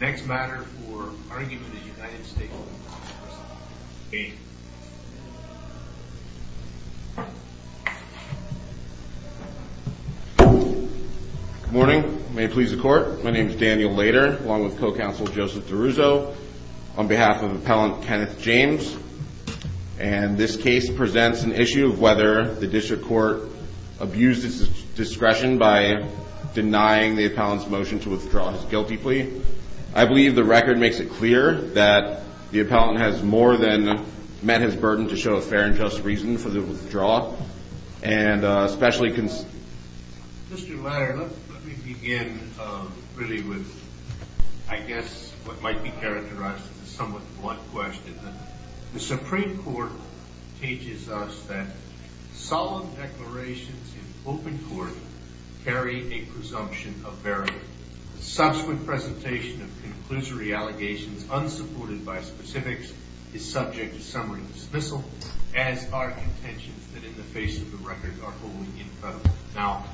Next matter for argument in the United States. Good morning. May it please the court. My name is Daniel Lader along with co-counsel Joseph DeRuzo on behalf of appellant Kenneth James. And this case presents an issue of whether the district court abused its discretion by denying the appellant's I believe the record makes it clear that the appellant has more than met his burden to show a fair and just reason for the withdrawal. And especially cons. Mr. Ladder, let me begin really with I guess what might be characterized as a somewhat blunt question. The Supreme Court teaches us that solemn declarations in open court carry a presumption of verity. Subsequent presentation of conclusory allegations unsupported by specifics is subject to summary dismissal as are contentions that in the face of the record are holding in federal. Now,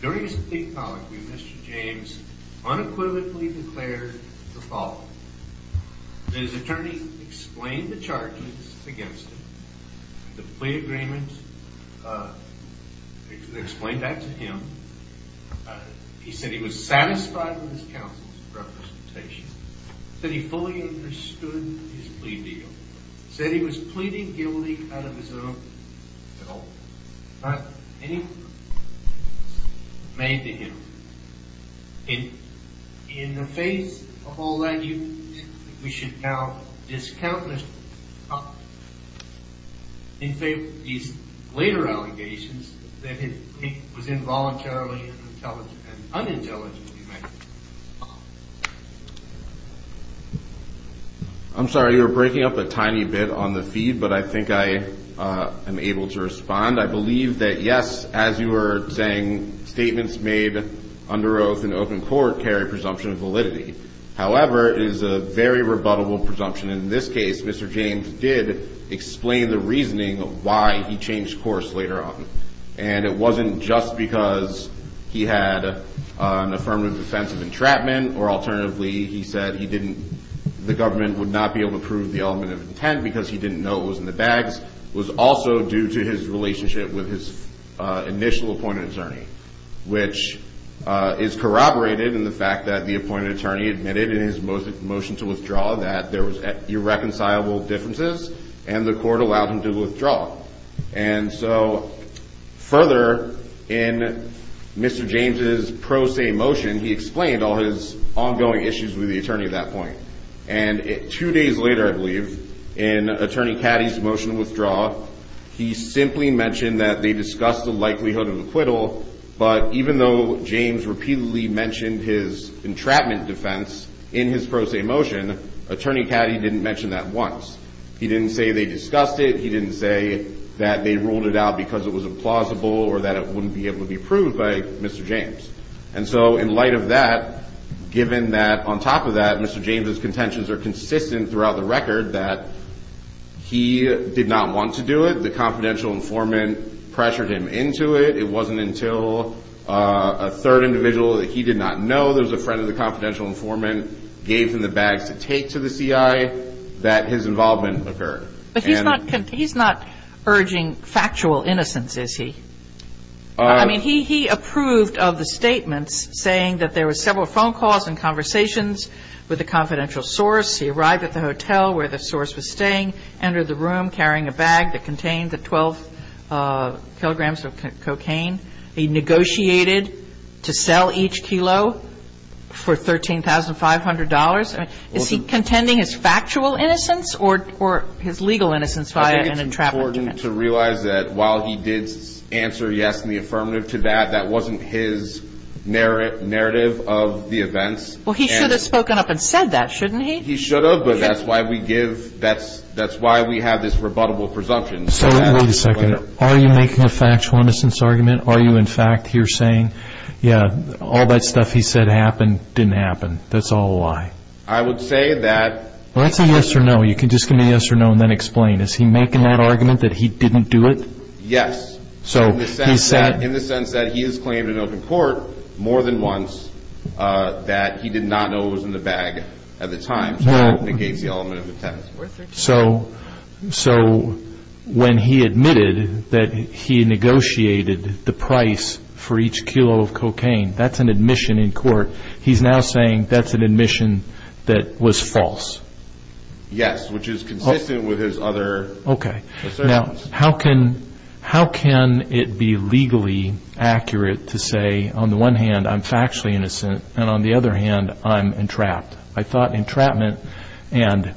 during his plea policy, Mr. James unequivocally declared the following. His attorney explained the charges against him. The plea agreement explained that to him. He said he was satisfied with his counsel's representation. That he fully understood his plea deal. Said he was pleading guilty out of his own at all. Not any made to him. In in the face of all that you we should now discount in favor of these later allegations that it was involuntarily unintelligent. I'm sorry. You're breaking up a tiny bit on the feed, but I think I am able to respond. I believe that yes, as you were saying statements made under oath in open court carry presumption of validity. However, is a very rebuttable presumption. In this case, Mr. James did explain the reasoning of why he changed course later on. And it wasn't just because he had an affirmative defense of entrapment or alternatively, he said he didn't the government would not be able to prove the element of intent because he didn't know it was in the bags. Was also due to his relationship with his initial appointed attorney, which is corroborated in the fact that the appointed attorney admitted in his motion to withdraw that there was irreconcilable differences and the court allowed him to withdraw. And so further in Mr. James's pro se motion, he explained all his ongoing issues with the attorney at that point. And two days later, I believe in Attorney Caddy's motion to withdraw, he simply mentioned that they discussed the likelihood of acquittal, but even though James repeatedly mentioned his entrapment defense in his pro se motion, Attorney Caddy didn't mention that once. He didn't say they discussed it. He didn't say that they ruled it out because it was implausible or that it wouldn't be able to be proved by Mr. James. And so in light of that, given that on top of that, Mr. James's contentions are consistent throughout the record that he did not want to do it. The confidential informant pressured him into it. It wasn't until a third individual that he did not know, there was a friend of the confidential informant, gave him the bags to take to the CI that his involvement occurred. But he's not urging factual innocence, is he? I mean, he approved of the statements saying that there were several phone calls and conversations with the confidential source. He arrived at the hotel where the source was staying, entered the room carrying a bag that contained the 12 kilograms of cocaine. He negotiated to sell each kilo for $13,500. I mean, is he contending his factual innocence or or his legal innocence via an entrapment defense? I think it's important to realize that while he did answer yes in the affirmative to that, that wasn't his narrative of the events. Well, he should have spoken up and said that, shouldn't he? He should have, but that's why we give, that's why we have this rebuttable presumption. So wait a second. Are you making a factual innocence argument? Are you in fact here saying, yeah, all that stuff he said happened, didn't happen. That's all a lie. I would say that. Well, that's a yes or no. You can just give me a yes or no and then explain. Is he making that argument that he didn't do it? Yes. So he said, in the sense that he has claimed in open court more than once that he did not know what was in the bag at the time, so that negates the element of intent. So, so when he admitted that he negotiated the price for each kilo of cocaine, that's an admission in court. He's now saying that's an admission that was false. Yes, which is consistent with his other. Okay. Now, how can, how can it be legally accurate to say, on the one hand, I'm factually innocent, and on the other hand, I'm entrapped. I thought entrapment and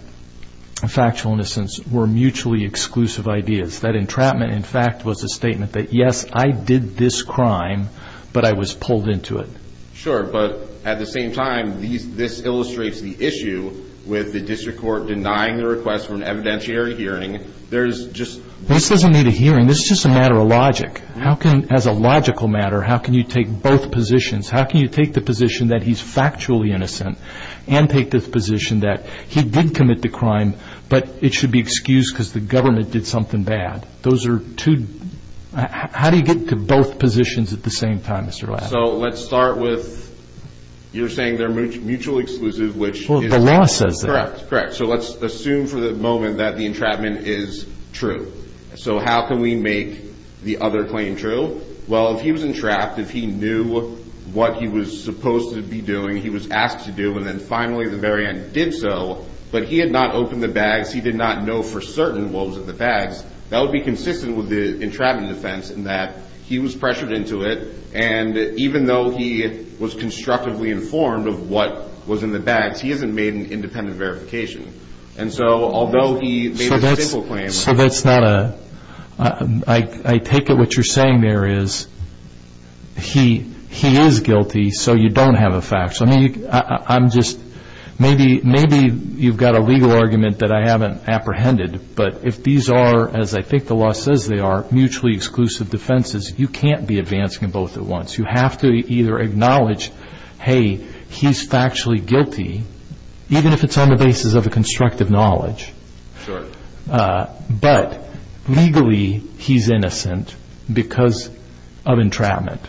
factual innocence were mutually exclusive ideas. That entrapment, in fact, was a statement that, yes, I did this crime, but I was pulled into it. Sure, but at the same time, this illustrates the issue with the district court denying the request for an evidentiary hearing. There's just. This doesn't need a hearing. This is just a matter of logic. How can, as a logical matter, how can you take both positions? How can you take the position that he's factually innocent and take this position that he did commit the crime, but it should be excused because the government did something bad? Those are two. How do you get to both positions at the same time, Mr. Ladd? So let's start with you're saying they're mutually exclusive, which is correct, correct. So let's assume for the moment that the entrapment is true. So how can we make the other claim true? Well, if he was entrapped, if he knew what he was supposed to be doing, he was asked to do, and then finally the very end did so, but he had not opened the bags. He did not know for certain what was in the bags. That would be consistent with the entrapment defense in that he was pressured into it. And even though he was constructively informed of what was in the bags, he hasn't made an independent verification. And so although he made a simple claim. So that's not a, I take it what you're saying there is he, he is guilty. So you don't have a fax. I mean, I'm just, maybe, maybe you've got a legal argument that I haven't apprehended. But if these are, as I think the law says they are, mutually exclusive defenses, you can't be advancing both at once. You have to either acknowledge, hey, he's factually guilty, even if it's on the basis of a constructive knowledge. Sure. But, legally, he's innocent because of entrapment.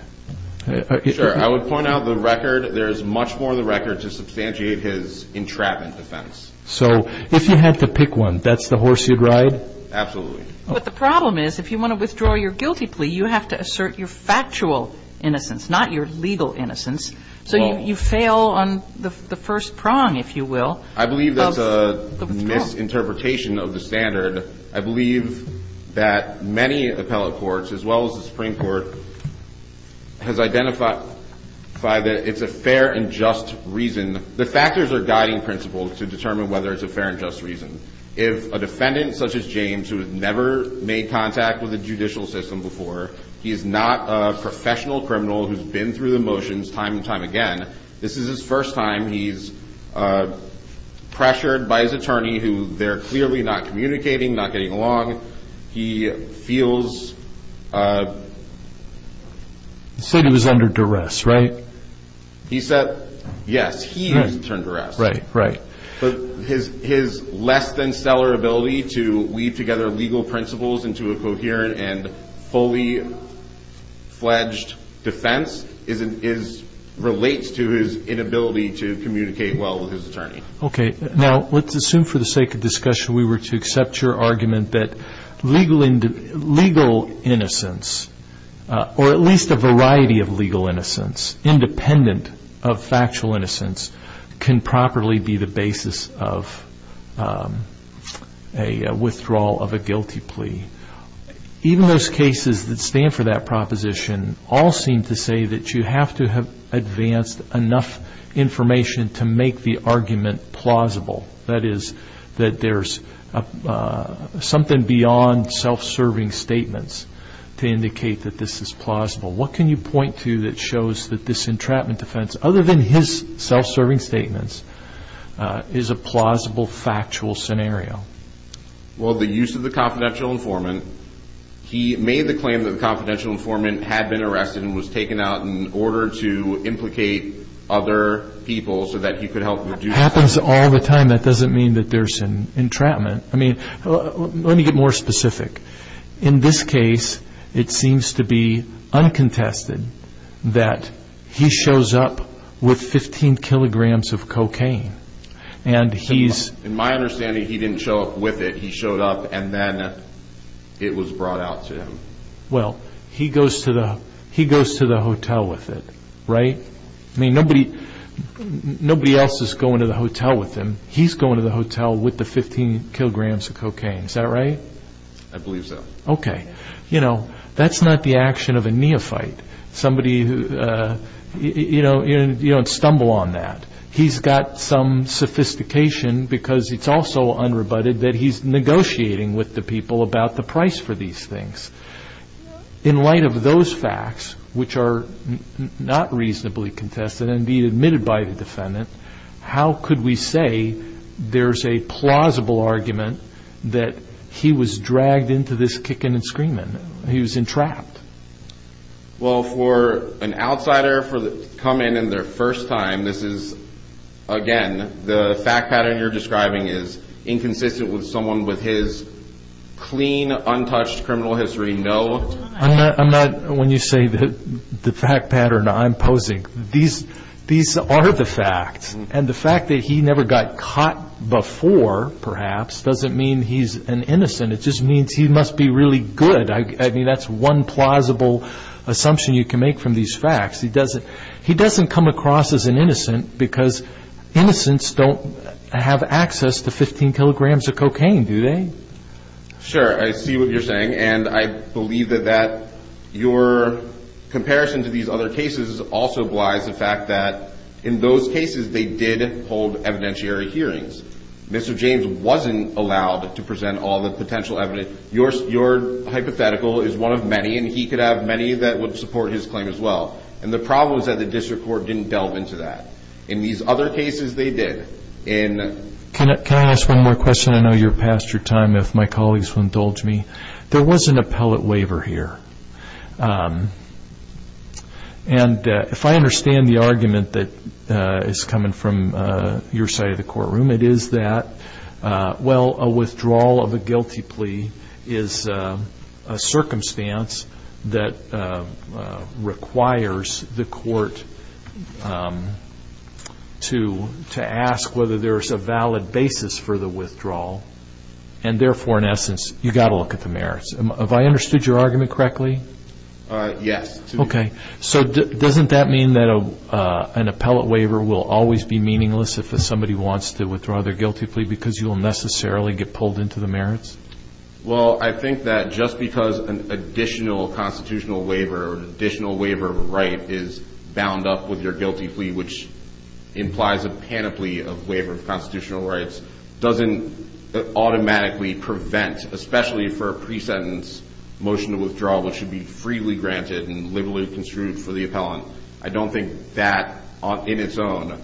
Sure, I would point out the record. There's much more the record to substantiate his entrapment defense. So if you had to pick one, that's the horse you'd ride? Absolutely. But the problem is if you want to withdraw your guilty plea, you have to assert your factual innocence, not your legal innocence. So you fail on the first prong, if you will. I believe that's a misinterpretation of the standard. I believe that many appellate courts, as well as the Supreme Court, has identified that it's a fair and just reason. The factors are guiding principles to determine whether it's a fair and just reason. If a defendant such as James, who has never made contact with the judicial system before, he's not a professional criminal who's been through the motions time and time again. This is his first time. He's pressured by his attorney, who they're clearly not communicating, not getting along. He feels... He said he was under duress, right? He said, yes, he is under duress. Right, right. But his less than stellar ability to weave together legal principles into a coherent and fully fledged defense relates to his inability to communicate well with his attorney. Okay. Now, let's assume for the sake of discussion, we were to accept your argument that legal innocence, or at least a variety of legal innocence, independent of factual innocence, can properly be the basis of a withdrawal of a guilty plea. Even those cases that stand for that proposition all seem to say that you have to have advanced enough information to make the argument plausible. That is, that there's something beyond self-serving statements to indicate that this is plausible. What can you point to that shows that this entrapment defense, other than his self-serving statements, is a plausible factual scenario? Well, the use of the confidential informant, he made the claim that the confidential informant had been arrested and was taken out in order to implicate other people so that he could help reduce... Happens all the time. That doesn't mean that there's an entrapment. I mean, let me get more specific. In this case, it seems to be uncontested that he shows up with 15 kilograms of cocaine and he's... In my understanding, he didn't show up with it. He showed up and then it was brought out to him. Well, he goes to the hotel with it, right? I mean, nobody else is going to the hotel with him. He's going to the hotel with the 15 kilograms of cocaine. Is that right? I believe so. Okay. You know, that's not the action of a neophyte. Somebody who... You don't stumble on that. He's got some sophistication because it's also unrebutted that he's negotiating with the people about the price for these things. In light of those facts, which are not reasonably contested and be admitted by the defendant, how could we say there's a plausible argument that he was dragged into this kicking and screaming? He was entrapped. Well, for an outsider to come in their first time, this is, again, the fact pattern you're describing is inconsistent with someone with his clean, untouched criminal history. No. I'm not... When you say that the fact pattern I'm posing, these are the facts. And the fact that he never got caught before, perhaps, doesn't mean he's an innocent. It just means he must be really good. I mean, that's one plausible assumption you can make from these facts. He doesn't... He doesn't come across as an innocent because innocents don't have access to 15 kilograms of cocaine, do they? Sure, I see what you're saying. And I believe that that your comparison to these other cases also lies the fact that in those cases, they did hold evidentiary hearings. Mr. James wasn't allowed to present all the potential evidence. Your hypothetical is one of many, and he could have many that would support his claim as well. And the problem is that the District Court didn't delve into that. In these other cases, they did. In... Can I ask one more question? I know you're past your time, if my colleagues will indulge me. There was an appellate waiver here. And if I understand the argument that is coming from your side of the courtroom, it is that well, a withdrawal of a guilty plea is a circumstance that requires the court to ask whether there is a valid basis for the withdrawal. And therefore, in essence, you got to look at the merits. Have I understood your argument correctly? Yes. Okay. So doesn't that mean that an appellate waiver will always be meaningless if somebody wants to withdraw their guilty plea because you will necessarily get pulled into the merits? Well, I think that just because an additional constitutional waiver or an additional waiver of a right is bound up with your guilty plea, which implies a panoply of waiver of constitutional rights, doesn't automatically prevent, especially for a pre-sentence motion to withdraw, which should be freely granted and liberally construed for the appellant. I don't think that, in its own,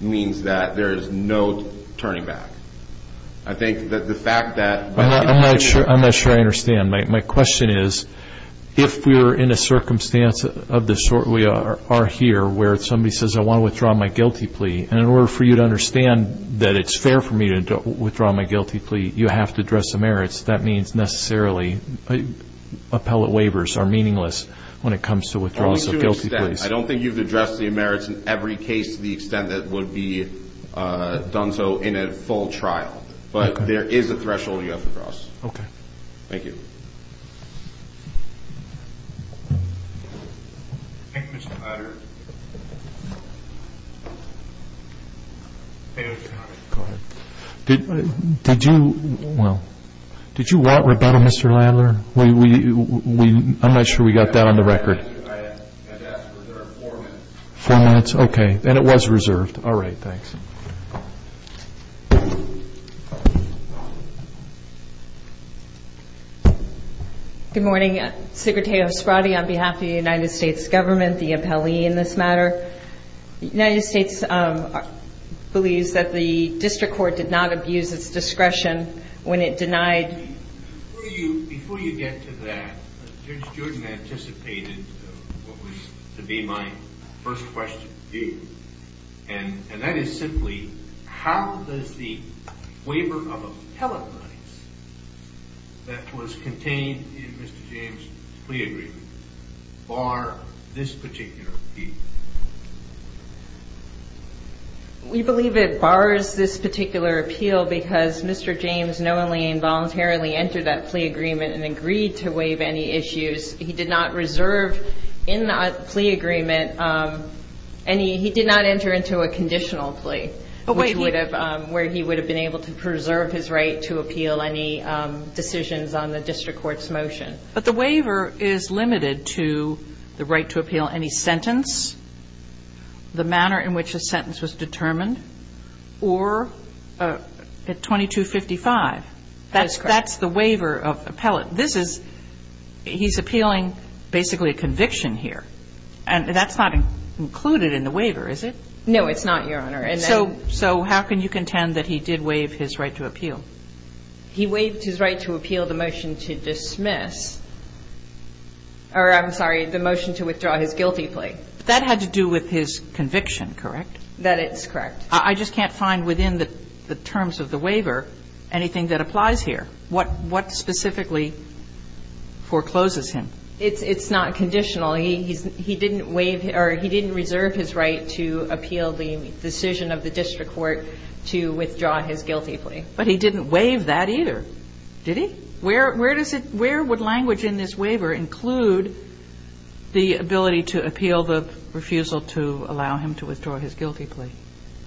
means that there is no turning back. I think that the fact that... I'm not sure I understand. My question is, if we're in a circumstance of the sort we are here, where somebody says, I want to withdraw my guilty plea, and in order for you to understand that it's fair for me to withdraw my guilty plea, you have to address the merits. That means necessarily appellate waivers are meaningless when it comes to withdrawals of guilty pleas. I don't think you've addressed the merits in every case to the extent that would be done so in a full trial. But there is a threshold you have to cross. Okay. Thank you. Thank you, Mr. Ladler. Did you... Well, did you want rebuttal, Mr. Ladler? I'm not sure we got that on the record. Four minutes? Okay, then it was reserved. All right. Thanks. Thank you. Good morning, Secretary O'Scrotty. On behalf of the United States government, the appellee in this matter, the United States believes that the district court did not abuse its discretion when it denied... Before you get to that, Judge Jordan anticipated what was to be my first question to do, and that is simply, how does the waiver of appellate rights that was contained in Mr. James' plea agreement bar this particular appeal? We believe it bars this particular appeal because Mr. James knowingly and voluntarily entered that plea agreement and agreed to waive any issues. He did not reserve in that plea agreement any... He did not enter into a conditional plea, where he would have been able to preserve his right to appeal any decisions on the district court's motion. But the waiver is limited to the right to appeal any sentence, the manner in which a sentence was determined, or at 2255. That's correct. That's the waiver of appellate. This is, he's appealing basically a conviction here, and that's not included in the waiver, is it? No, it's not, Your Honor. So how can you contend that he did waive his right to appeal? He waived his right to appeal the motion to dismiss, or I'm sorry, the motion to withdraw his guilty plea. That had to do with his conviction, correct? That is correct. I just can't find within the terms of the waiver anything that applies here. What specifically forecloses him? It's not conditional. He didn't waive, or he didn't reserve his right to appeal the decision of the district court to withdraw his guilty plea. But he didn't waive that either. Did he? Where does it, where would language in this waiver include the ability to appeal the refusal to allow him to withdraw his guilty plea?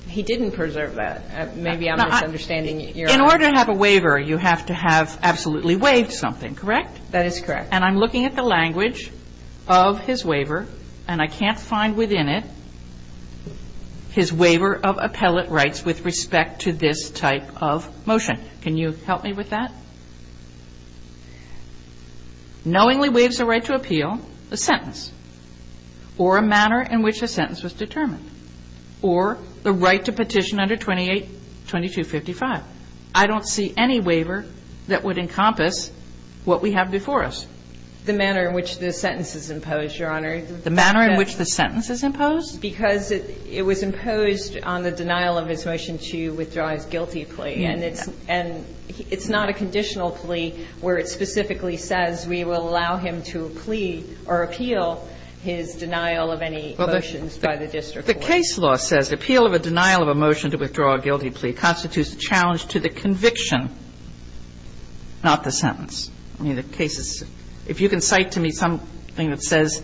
He didn't preserve that. Maybe I'm misunderstanding, Your Honor. In order to have a waiver, you have to have absolutely waived something, correct? That is correct. And I'm looking at the language of his waiver, and I can't find within it his waiver of appellate rights with respect to this type of motion. Can you help me with that? Knowingly waives a right to appeal a sentence, or a manner in which a sentence was determined, or the right to petition under 28, 2255. I don't see any waiver that would encompass what we have before us. The manner in which the sentence is imposed, Your Honor. The manner in which the sentence is imposed? Because it was imposed on the denial of his motion to withdraw his guilty plea. And it's not a conditional plea where it specifically says, we will allow him to plea or appeal his denial of any motions by the district court. The case law says appeal of a denial of a motion to withdraw a guilty plea constitutes a challenge to the conviction, not the sentence. I mean, the case is, if you can cite to me something that says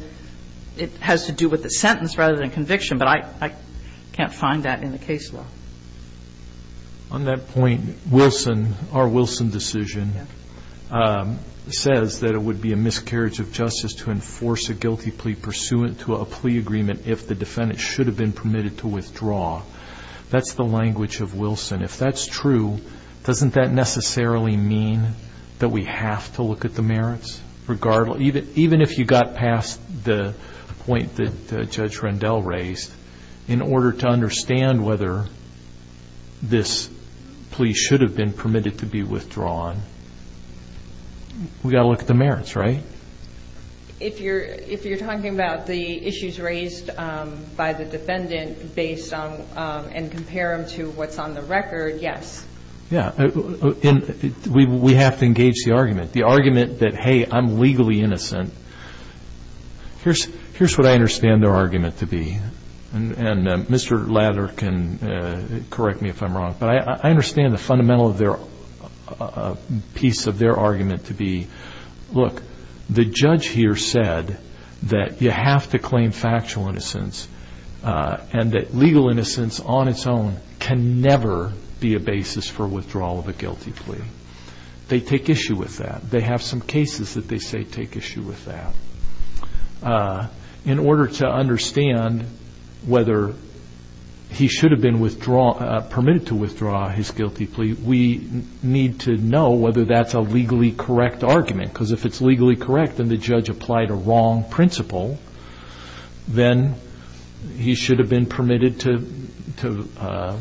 it has to do with the sentence rather than conviction. But I can't find that in the case law. On that point, Wilson, our Wilson decision says that it would be a miscarriage of justice to enforce a guilty plea pursuant to a plea agreement if the defendant should have been permitted to withdraw. That's the language of Wilson. If that's true, doesn't that necessarily mean that we have to look at the merits? Regardless, even if you got past the point that Judge Rendell raised, in order to understand whether this plea should have been permitted to be withdrawn, we got to look at the merits, right? If you're talking about the issues raised by the defendant based on and compare them to what's on the record, yes. Yeah. We have to engage the argument. The argument that, hey, I'm legally innocent. Here's what I understand their argument to be. And Mr. Lather can correct me if I'm wrong. But I understand the fundamental of their piece of their argument to be, look, the judge here said that you have to claim factual innocence and that legal innocence on its own can never be a basis for withdrawal of a guilty plea. They take issue with that. They have some cases that they say take issue with that. In order to understand whether he should have been permitted to withdraw his guilty plea, we need to know whether that's a legally correct argument. Because if it's legally correct and the judge applied a wrong principle, then he should have been permitted to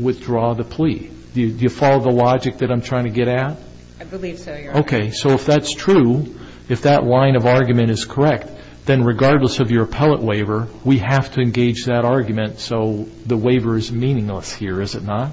withdraw the plea. Do you follow the logic that I'm trying to get at? I believe so, Your Honor. Okay. So if that's true, if that line of argument is correct, then regardless of your appellate waiver, we have to engage that argument. So the waiver is meaningless here, is it not?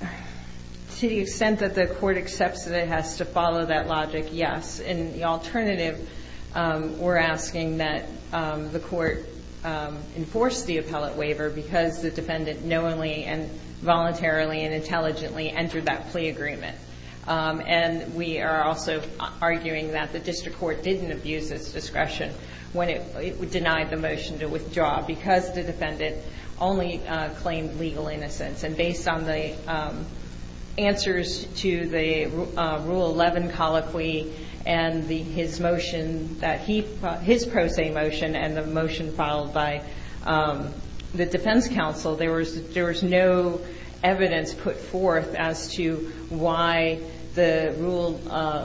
To the extent that the court accepts that it has to follow that logic, yes. In the alternative, we're asking that the court enforce the appellate waiver because the defendant knowingly and voluntarily and intelligently entered that plea agreement. And we are also arguing that the district court didn't abuse its discretion when it denied the motion to withdraw because the defendant only claimed legal innocence. And based on the answers to the Rule 11 colloquy and his motion, his pro se motion and the motion filed by the defense counsel, there was no evidence put forth as to why the Rule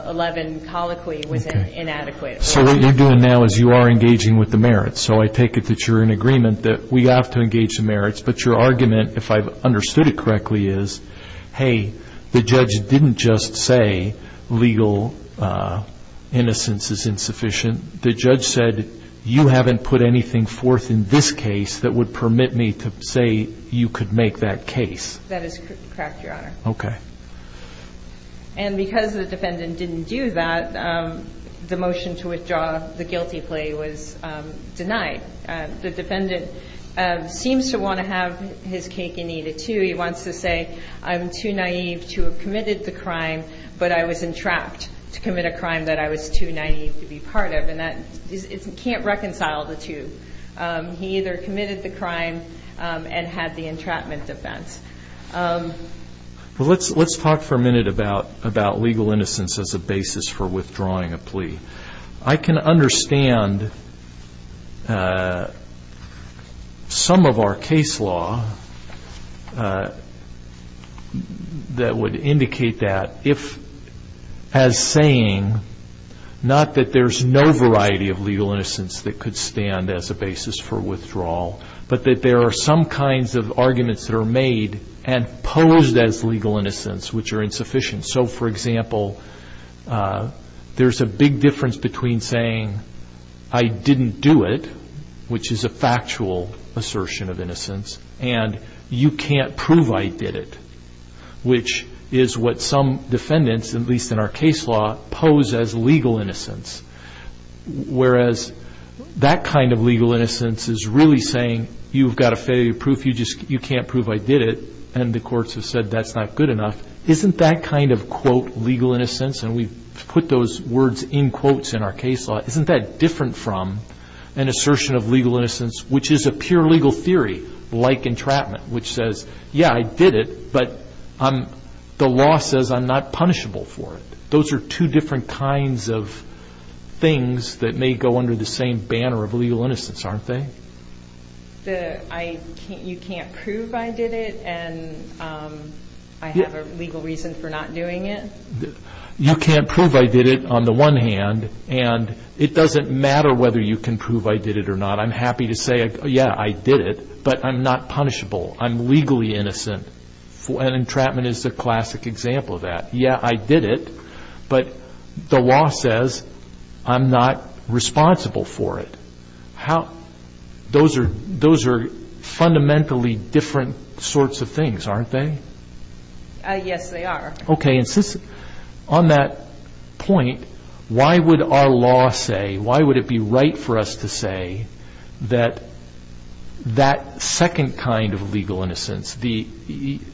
11 colloquy was inadequate. So what you're doing now is you are engaging with the merits. So I take it that you're in agreement that we have to engage the merits. But your argument, if I've understood it correctly, is hey, the judge didn't just say legal innocence is insufficient. The judge said you haven't put anything forth in this case that would permit me to say you could make that case. That is correct, Your Honor. Okay. And because the defendant didn't do that, the motion to withdraw the guilty plea was denied. The defendant seems to want to have his cake and eat it, too. He wants to say I'm too naive to have committed the crime, but I was entrapped to commit a crime that I was too naive to be part of. And that can't reconcile the two. He either committed the crime and had the entrapment defense. Well, let's talk for a minute about legal innocence as a basis for withdrawing a plea. I can understand some of our case law that would indicate that if, as saying not that there's no variety of legal innocence that could stand as a basis for withdrawal, but that there are some kinds of arguments that are made and posed as legal innocence which are insufficient. So, for example, there's a big difference between saying I didn't do it, which is a factual assertion of innocence, and you can't prove I did it, which is what some defendants, at least in our case law, pose as legal innocence. Whereas that kind of legal innocence is really saying you've got a failure proof, you just you can't prove I did it, and the courts have said that's not good enough. Isn't that kind of quote legal innocence, and we put those words in quotes in our case law, isn't that different from an assertion of legal innocence, which is a pure legal theory like entrapment, which says, yeah, I did it, but the law says I'm not punishable for it. Those are two different kinds of things that may go under the same banner of legal innocence, aren't they? You can't prove I did it, and I have a legal reason for not doing it? You can't prove I did it on the one hand, and it doesn't matter whether you can prove I did it or not. I'm happy to say, yeah, I did it, but I'm not punishable. I'm legally innocent, and entrapment is a classic example of that. Yeah, I did it, but the law says I'm not responsible for it. How those are fundamentally different sorts of things, aren't they? Yes, they are. Okay, and since on that point, why would our law say, why would it be right for us to say that that second kind of legal innocence, the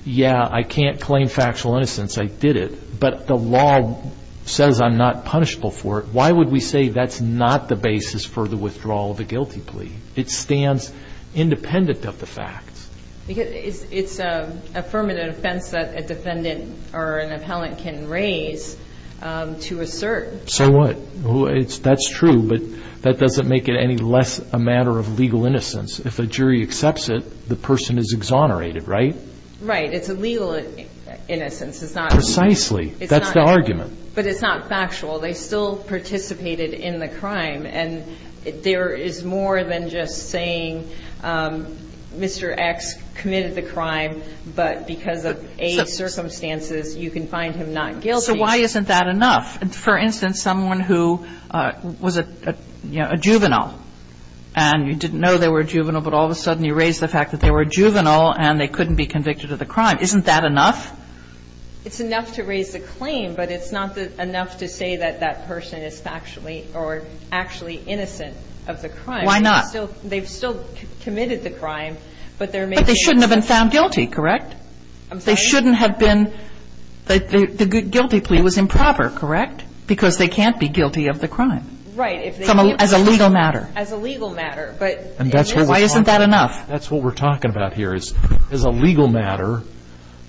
yeah, I can't claim factual innocence, I did it, but the law says I'm not punishable for it. Why would we say that's not the basis for the withdrawal of a guilty plea? It stands independent of the facts. Because it's a affirmative offense that a defendant or an appellant can raise to assert. So what? Well, that's true, but that doesn't make it any less a matter of legal innocence. If a jury accepts it, the person is exonerated, right? Right. It's a legal innocence. It's not. Precisely. That's the argument. But it's not factual. They still participated in the crime, and there is more than just saying Mr. X committed the crime, but because of age circumstances, you can find him not guilty. So why isn't that enough? For instance, someone who was a juvenile and you didn't know they were juvenile, but all of a sudden you raise the fact that they were juvenile and they couldn't be convicted of the crime. Isn't that enough? It's enough to raise the claim, but it's not enough to say that that person is factually or actually innocent of the crime. Why not? They've still committed the crime, but they shouldn't have been found guilty. Correct? They shouldn't have been. The guilty plea was improper. Correct? Because they can't be guilty of the crime. Right. As a legal matter. As a legal matter. But why isn't that enough? That's what we're talking about here is as a legal matter.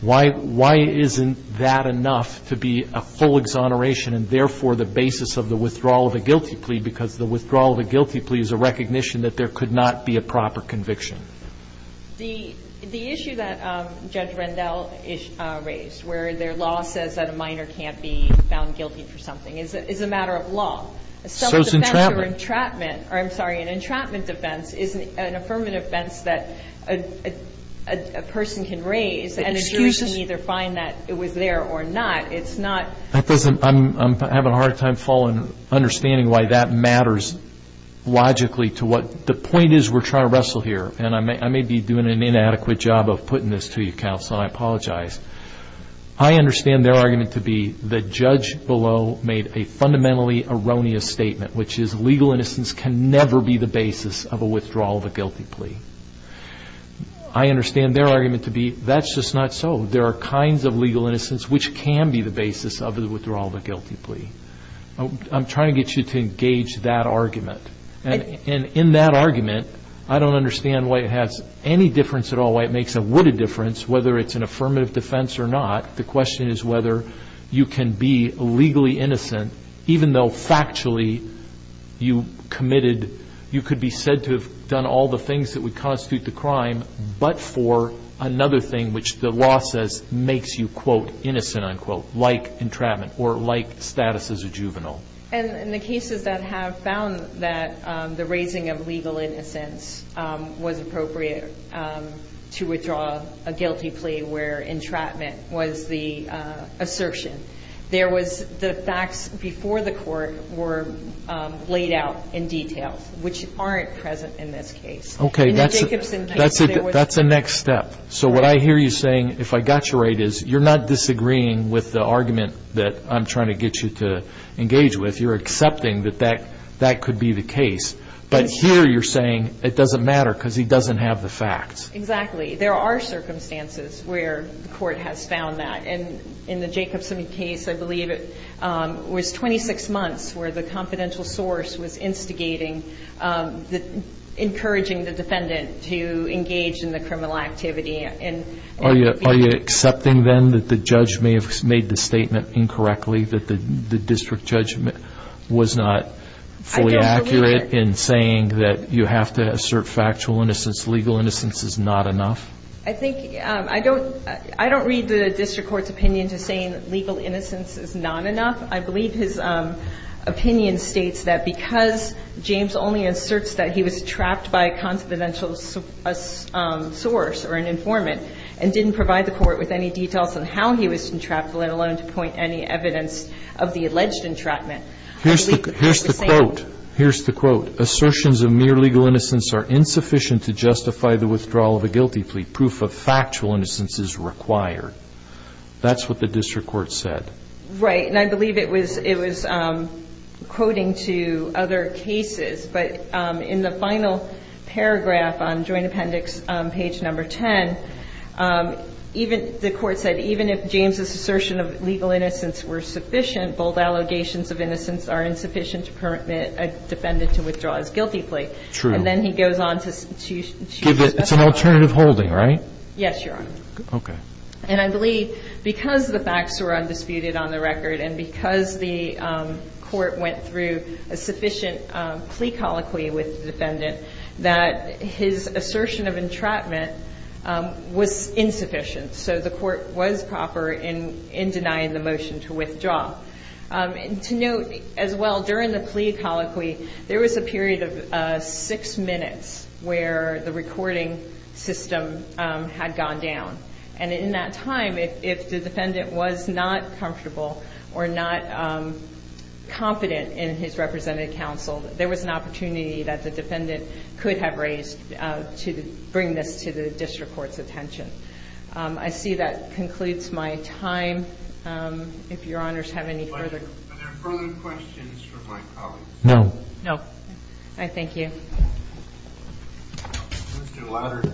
Why isn't that enough to be a full exoneration and therefore the basis of the withdrawal of a guilty plea? Because the withdrawal of a guilty plea is a recognition that there could not be a proper conviction. The issue that Judge Rendell raised where their law says that a minor can't be found guilty for something is a matter of law. Self-defense or entrapment. I'm sorry. An entrapment defense is an affirmative defense that a person can raise and the jury can either find that it was there or not. It's not. I'm having a hard time understanding why that matters logically to what the point is we're trying to wrestle here and I may be doing an inadequate job of putting this to you counsel and I apologize. I understand their argument to be the judge below made a fundamentally erroneous statement which is legal innocence can never be the basis of a withdrawal of a guilty plea. I understand their argument to be that's just not so. There are kinds of legal innocence which can be the basis of the withdrawal of a guilty plea. I'm trying to get you to engage that argument and in that argument I don't understand why it has any difference at all. Why it makes a difference whether it's an affirmative defense or not. The question is whether you can be legally innocent even though factually you committed you could be said to have done all the things that would constitute the crime but for another thing which the law says makes you quote innocent unquote like entrapment or like status as a juvenile. And in the cases that have found that the raising of legal innocence was appropriate to withdraw a guilty plea where entrapment was the assertion. There was the facts before the court were laid out in detail which aren't present in this case. Okay, that's a next step. So what I hear you saying if I got you right is you're not disagreeing with the argument that I'm trying to get you to engage with you're accepting that that could be the case but here you're saying it doesn't matter because he doesn't have the facts. Exactly. There are circumstances where the court has found that and in the Jacobson case I believe it was 26 months where the confidential source was instigating encouraging the defendant to engage in the criminal activity. And are you accepting then that the judge may have made the statement incorrectly that the district judgment was not fully accurate in saying that you have to assert factual innocence legal innocence is not enough. I think I don't I don't read the district court's opinion to saying legal innocence is not enough. I believe his opinion states that because James only inserts that he was trapped by a confidential source or an informant and didn't provide the court with any details on how he was entrapped let alone to point any evidence of the alleged entrapment. Here's the quote, assertions of mere legal innocence are insufficient to justify the withdrawal of a guilty plea. Proof of factual innocence is required. That's what the district court said. Right. And I believe it was it was quoting to other cases. But in the final paragraph on joint appendix page number 10, even the court said even if James's assertion of legal innocence were sufficient, bold allegations of innocence are insufficient to permit a defendant to withdraw his guilty plea. True. And then he goes on to give it. It's an alternative holding, right? Yes, Your Honor. Okay. And I believe because the facts were undisputed on the record and because the court went through a sufficient plea colloquy with the defendant that his assertion of entrapment was insufficient. So the court was proper in denying the motion to withdraw. And to note as well during the plea colloquy, there was a period of six minutes where the recording system had gone down. And in that time, if the defendant was not comfortable or not confident in his representative counsel, there was an opportunity that the defendant could have raised to bring this to the district court's attention. I see that concludes my time. If Your Honors have any further. Are there further questions from my colleagues? No. No. All right. Thank you. Thank you.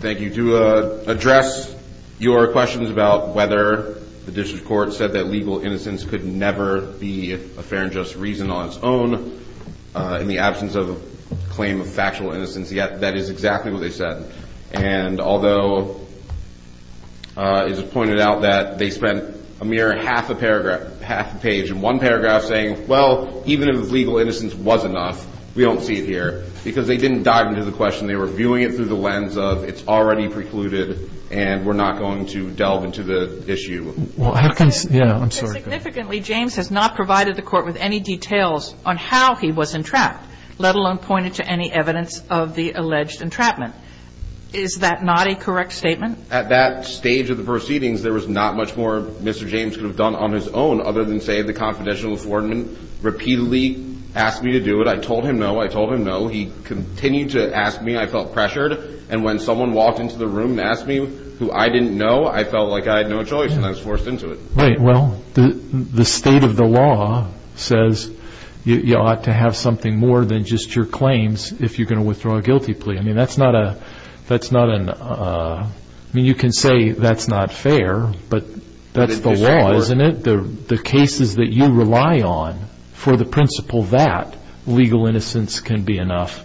Thank you. To address your questions about whether the district court said that legal innocence could never be a fair and just reason on its own in the absence of claim of factual innocence. Yeah, that is exactly what they said. And although it's pointed out that they spent a mere half a paragraph, half a page and one paragraph saying, well, even if legal innocence was enough, we don't see it here because they didn't dive into the question. They were viewing it through the lens of it's already precluded and we're not going to delve into the issue. Well, how can, yeah, I'm sorry. Significantly, James has not provided the court with any details on how he was entrapped, let alone pointed to any evidence of the alleged entrapment. Is that not a correct statement? At that stage of the proceedings, there was not much more Mr. James could have done on his own other than say the confidential Affordment repeatedly asked me to do it. I told him no. I told him no. He continued to ask me. I felt pressured and when someone walked into the room and asked me who I didn't know, I felt like I had no choice and I was forced into it. Right. Well, the state of the law says you ought to have something more than just your claims. If you're going to withdraw a guilty plea. I mean, that's not a that's not an I mean, you can say that's not fair, but that's the law, isn't it? The cases that you rely on for the principle that legal innocence can be enough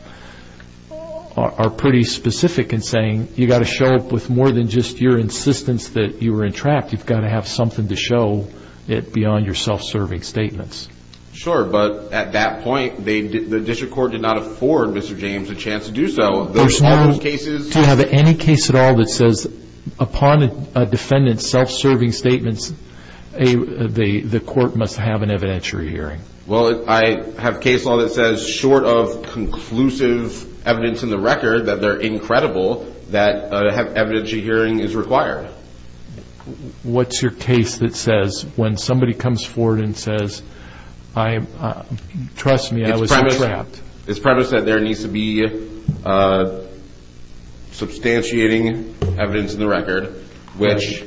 are pretty specific in saying you got to show up with more than just your insistence that you were entrapped. You've got to have something to show it beyond your self-serving statements. Sure. But at that point they did the district court did not afford Mr. James a chance to do so. There's no cases. Do you have any case at all that says upon a defendant self-serving statements a the court must have an evidentiary hearing? Well, I have case law that says short of conclusive evidence in the record that they're incredible that have evidentiary hearing is required. What's your case that says when somebody comes forward and says I trust me. I was trapped. It's premise that there needs to be a substantiating evidence in the record, which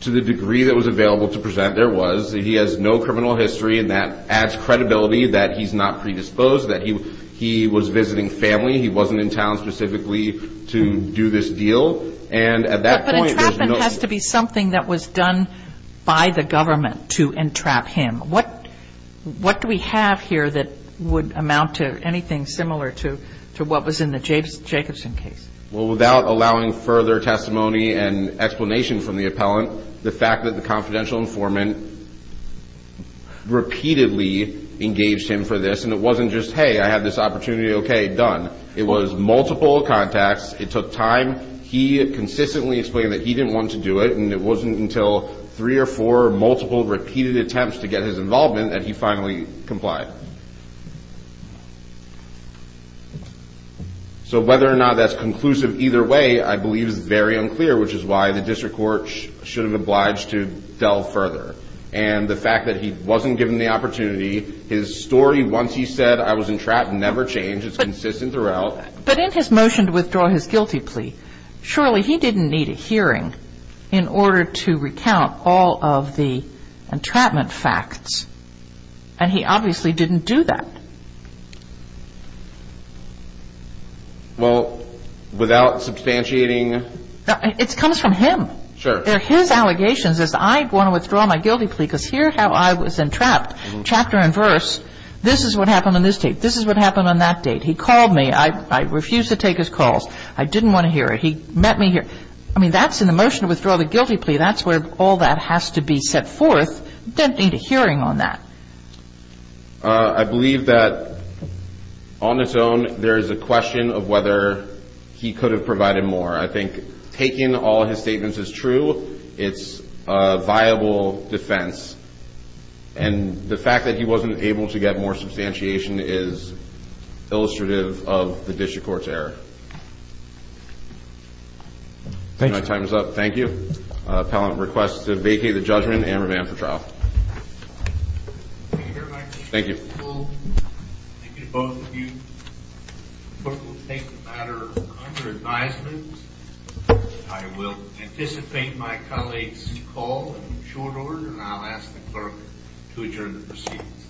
to the degree that was available to present. There was he has no criminal history and that adds credibility that he's not predisposed that he he was visiting family. He wasn't in town specifically to do this deal. And at that point has to be something that was done by the government to entrap him. What what do we have here that would amount to anything similar to to what was in the James Jacobson case? Well without allowing further testimony and explanation from the appellant the fact that the confidential informant repeatedly engaged him for this and it wasn't just hey, I have this opportunity. Okay done. It was multiple contacts. It took time. He consistently explained that he didn't want to do it and it wasn't until three or four multiple repeated attempts to get his involvement that he finally complied. So whether or not that's conclusive either way, I believe is very unclear, which is why the district court should have obliged to delve further and the fact that he wasn't given the opportunity his story. Once he said I was in trap never change is consistent throughout but in his motion to surely he didn't need a hearing in order to recount all of the entrapment facts and he obviously didn't do that. Well without substantiating it comes from him. Sure. There his allegations as I want to withdraw my guilty plea because here how I was entrapped chapter and verse. This is what happened in this tape. This is what happened on that date. He called me. I refuse to take his calls. I didn't want to hear it. He met me here. I mean that's in the motion to withdraw the guilty plea. That's where all that has to be set forth. Don't need a hearing on that. I believe that on its own. There is a question of whether he could have provided more. I think taking all his statements is true. It's viable defense and the fact that he wasn't able to get more substantiation is illustrative of the district court's error. Thank you. My time is up. Thank you. Appellant requests to vacate the judgment and revamp the trial. Thank you. Thank you both of you. Clerk will take the matter under advisement. I will anticipate my colleagues call in short order and I'll ask the clerk to adjourn the proceedings.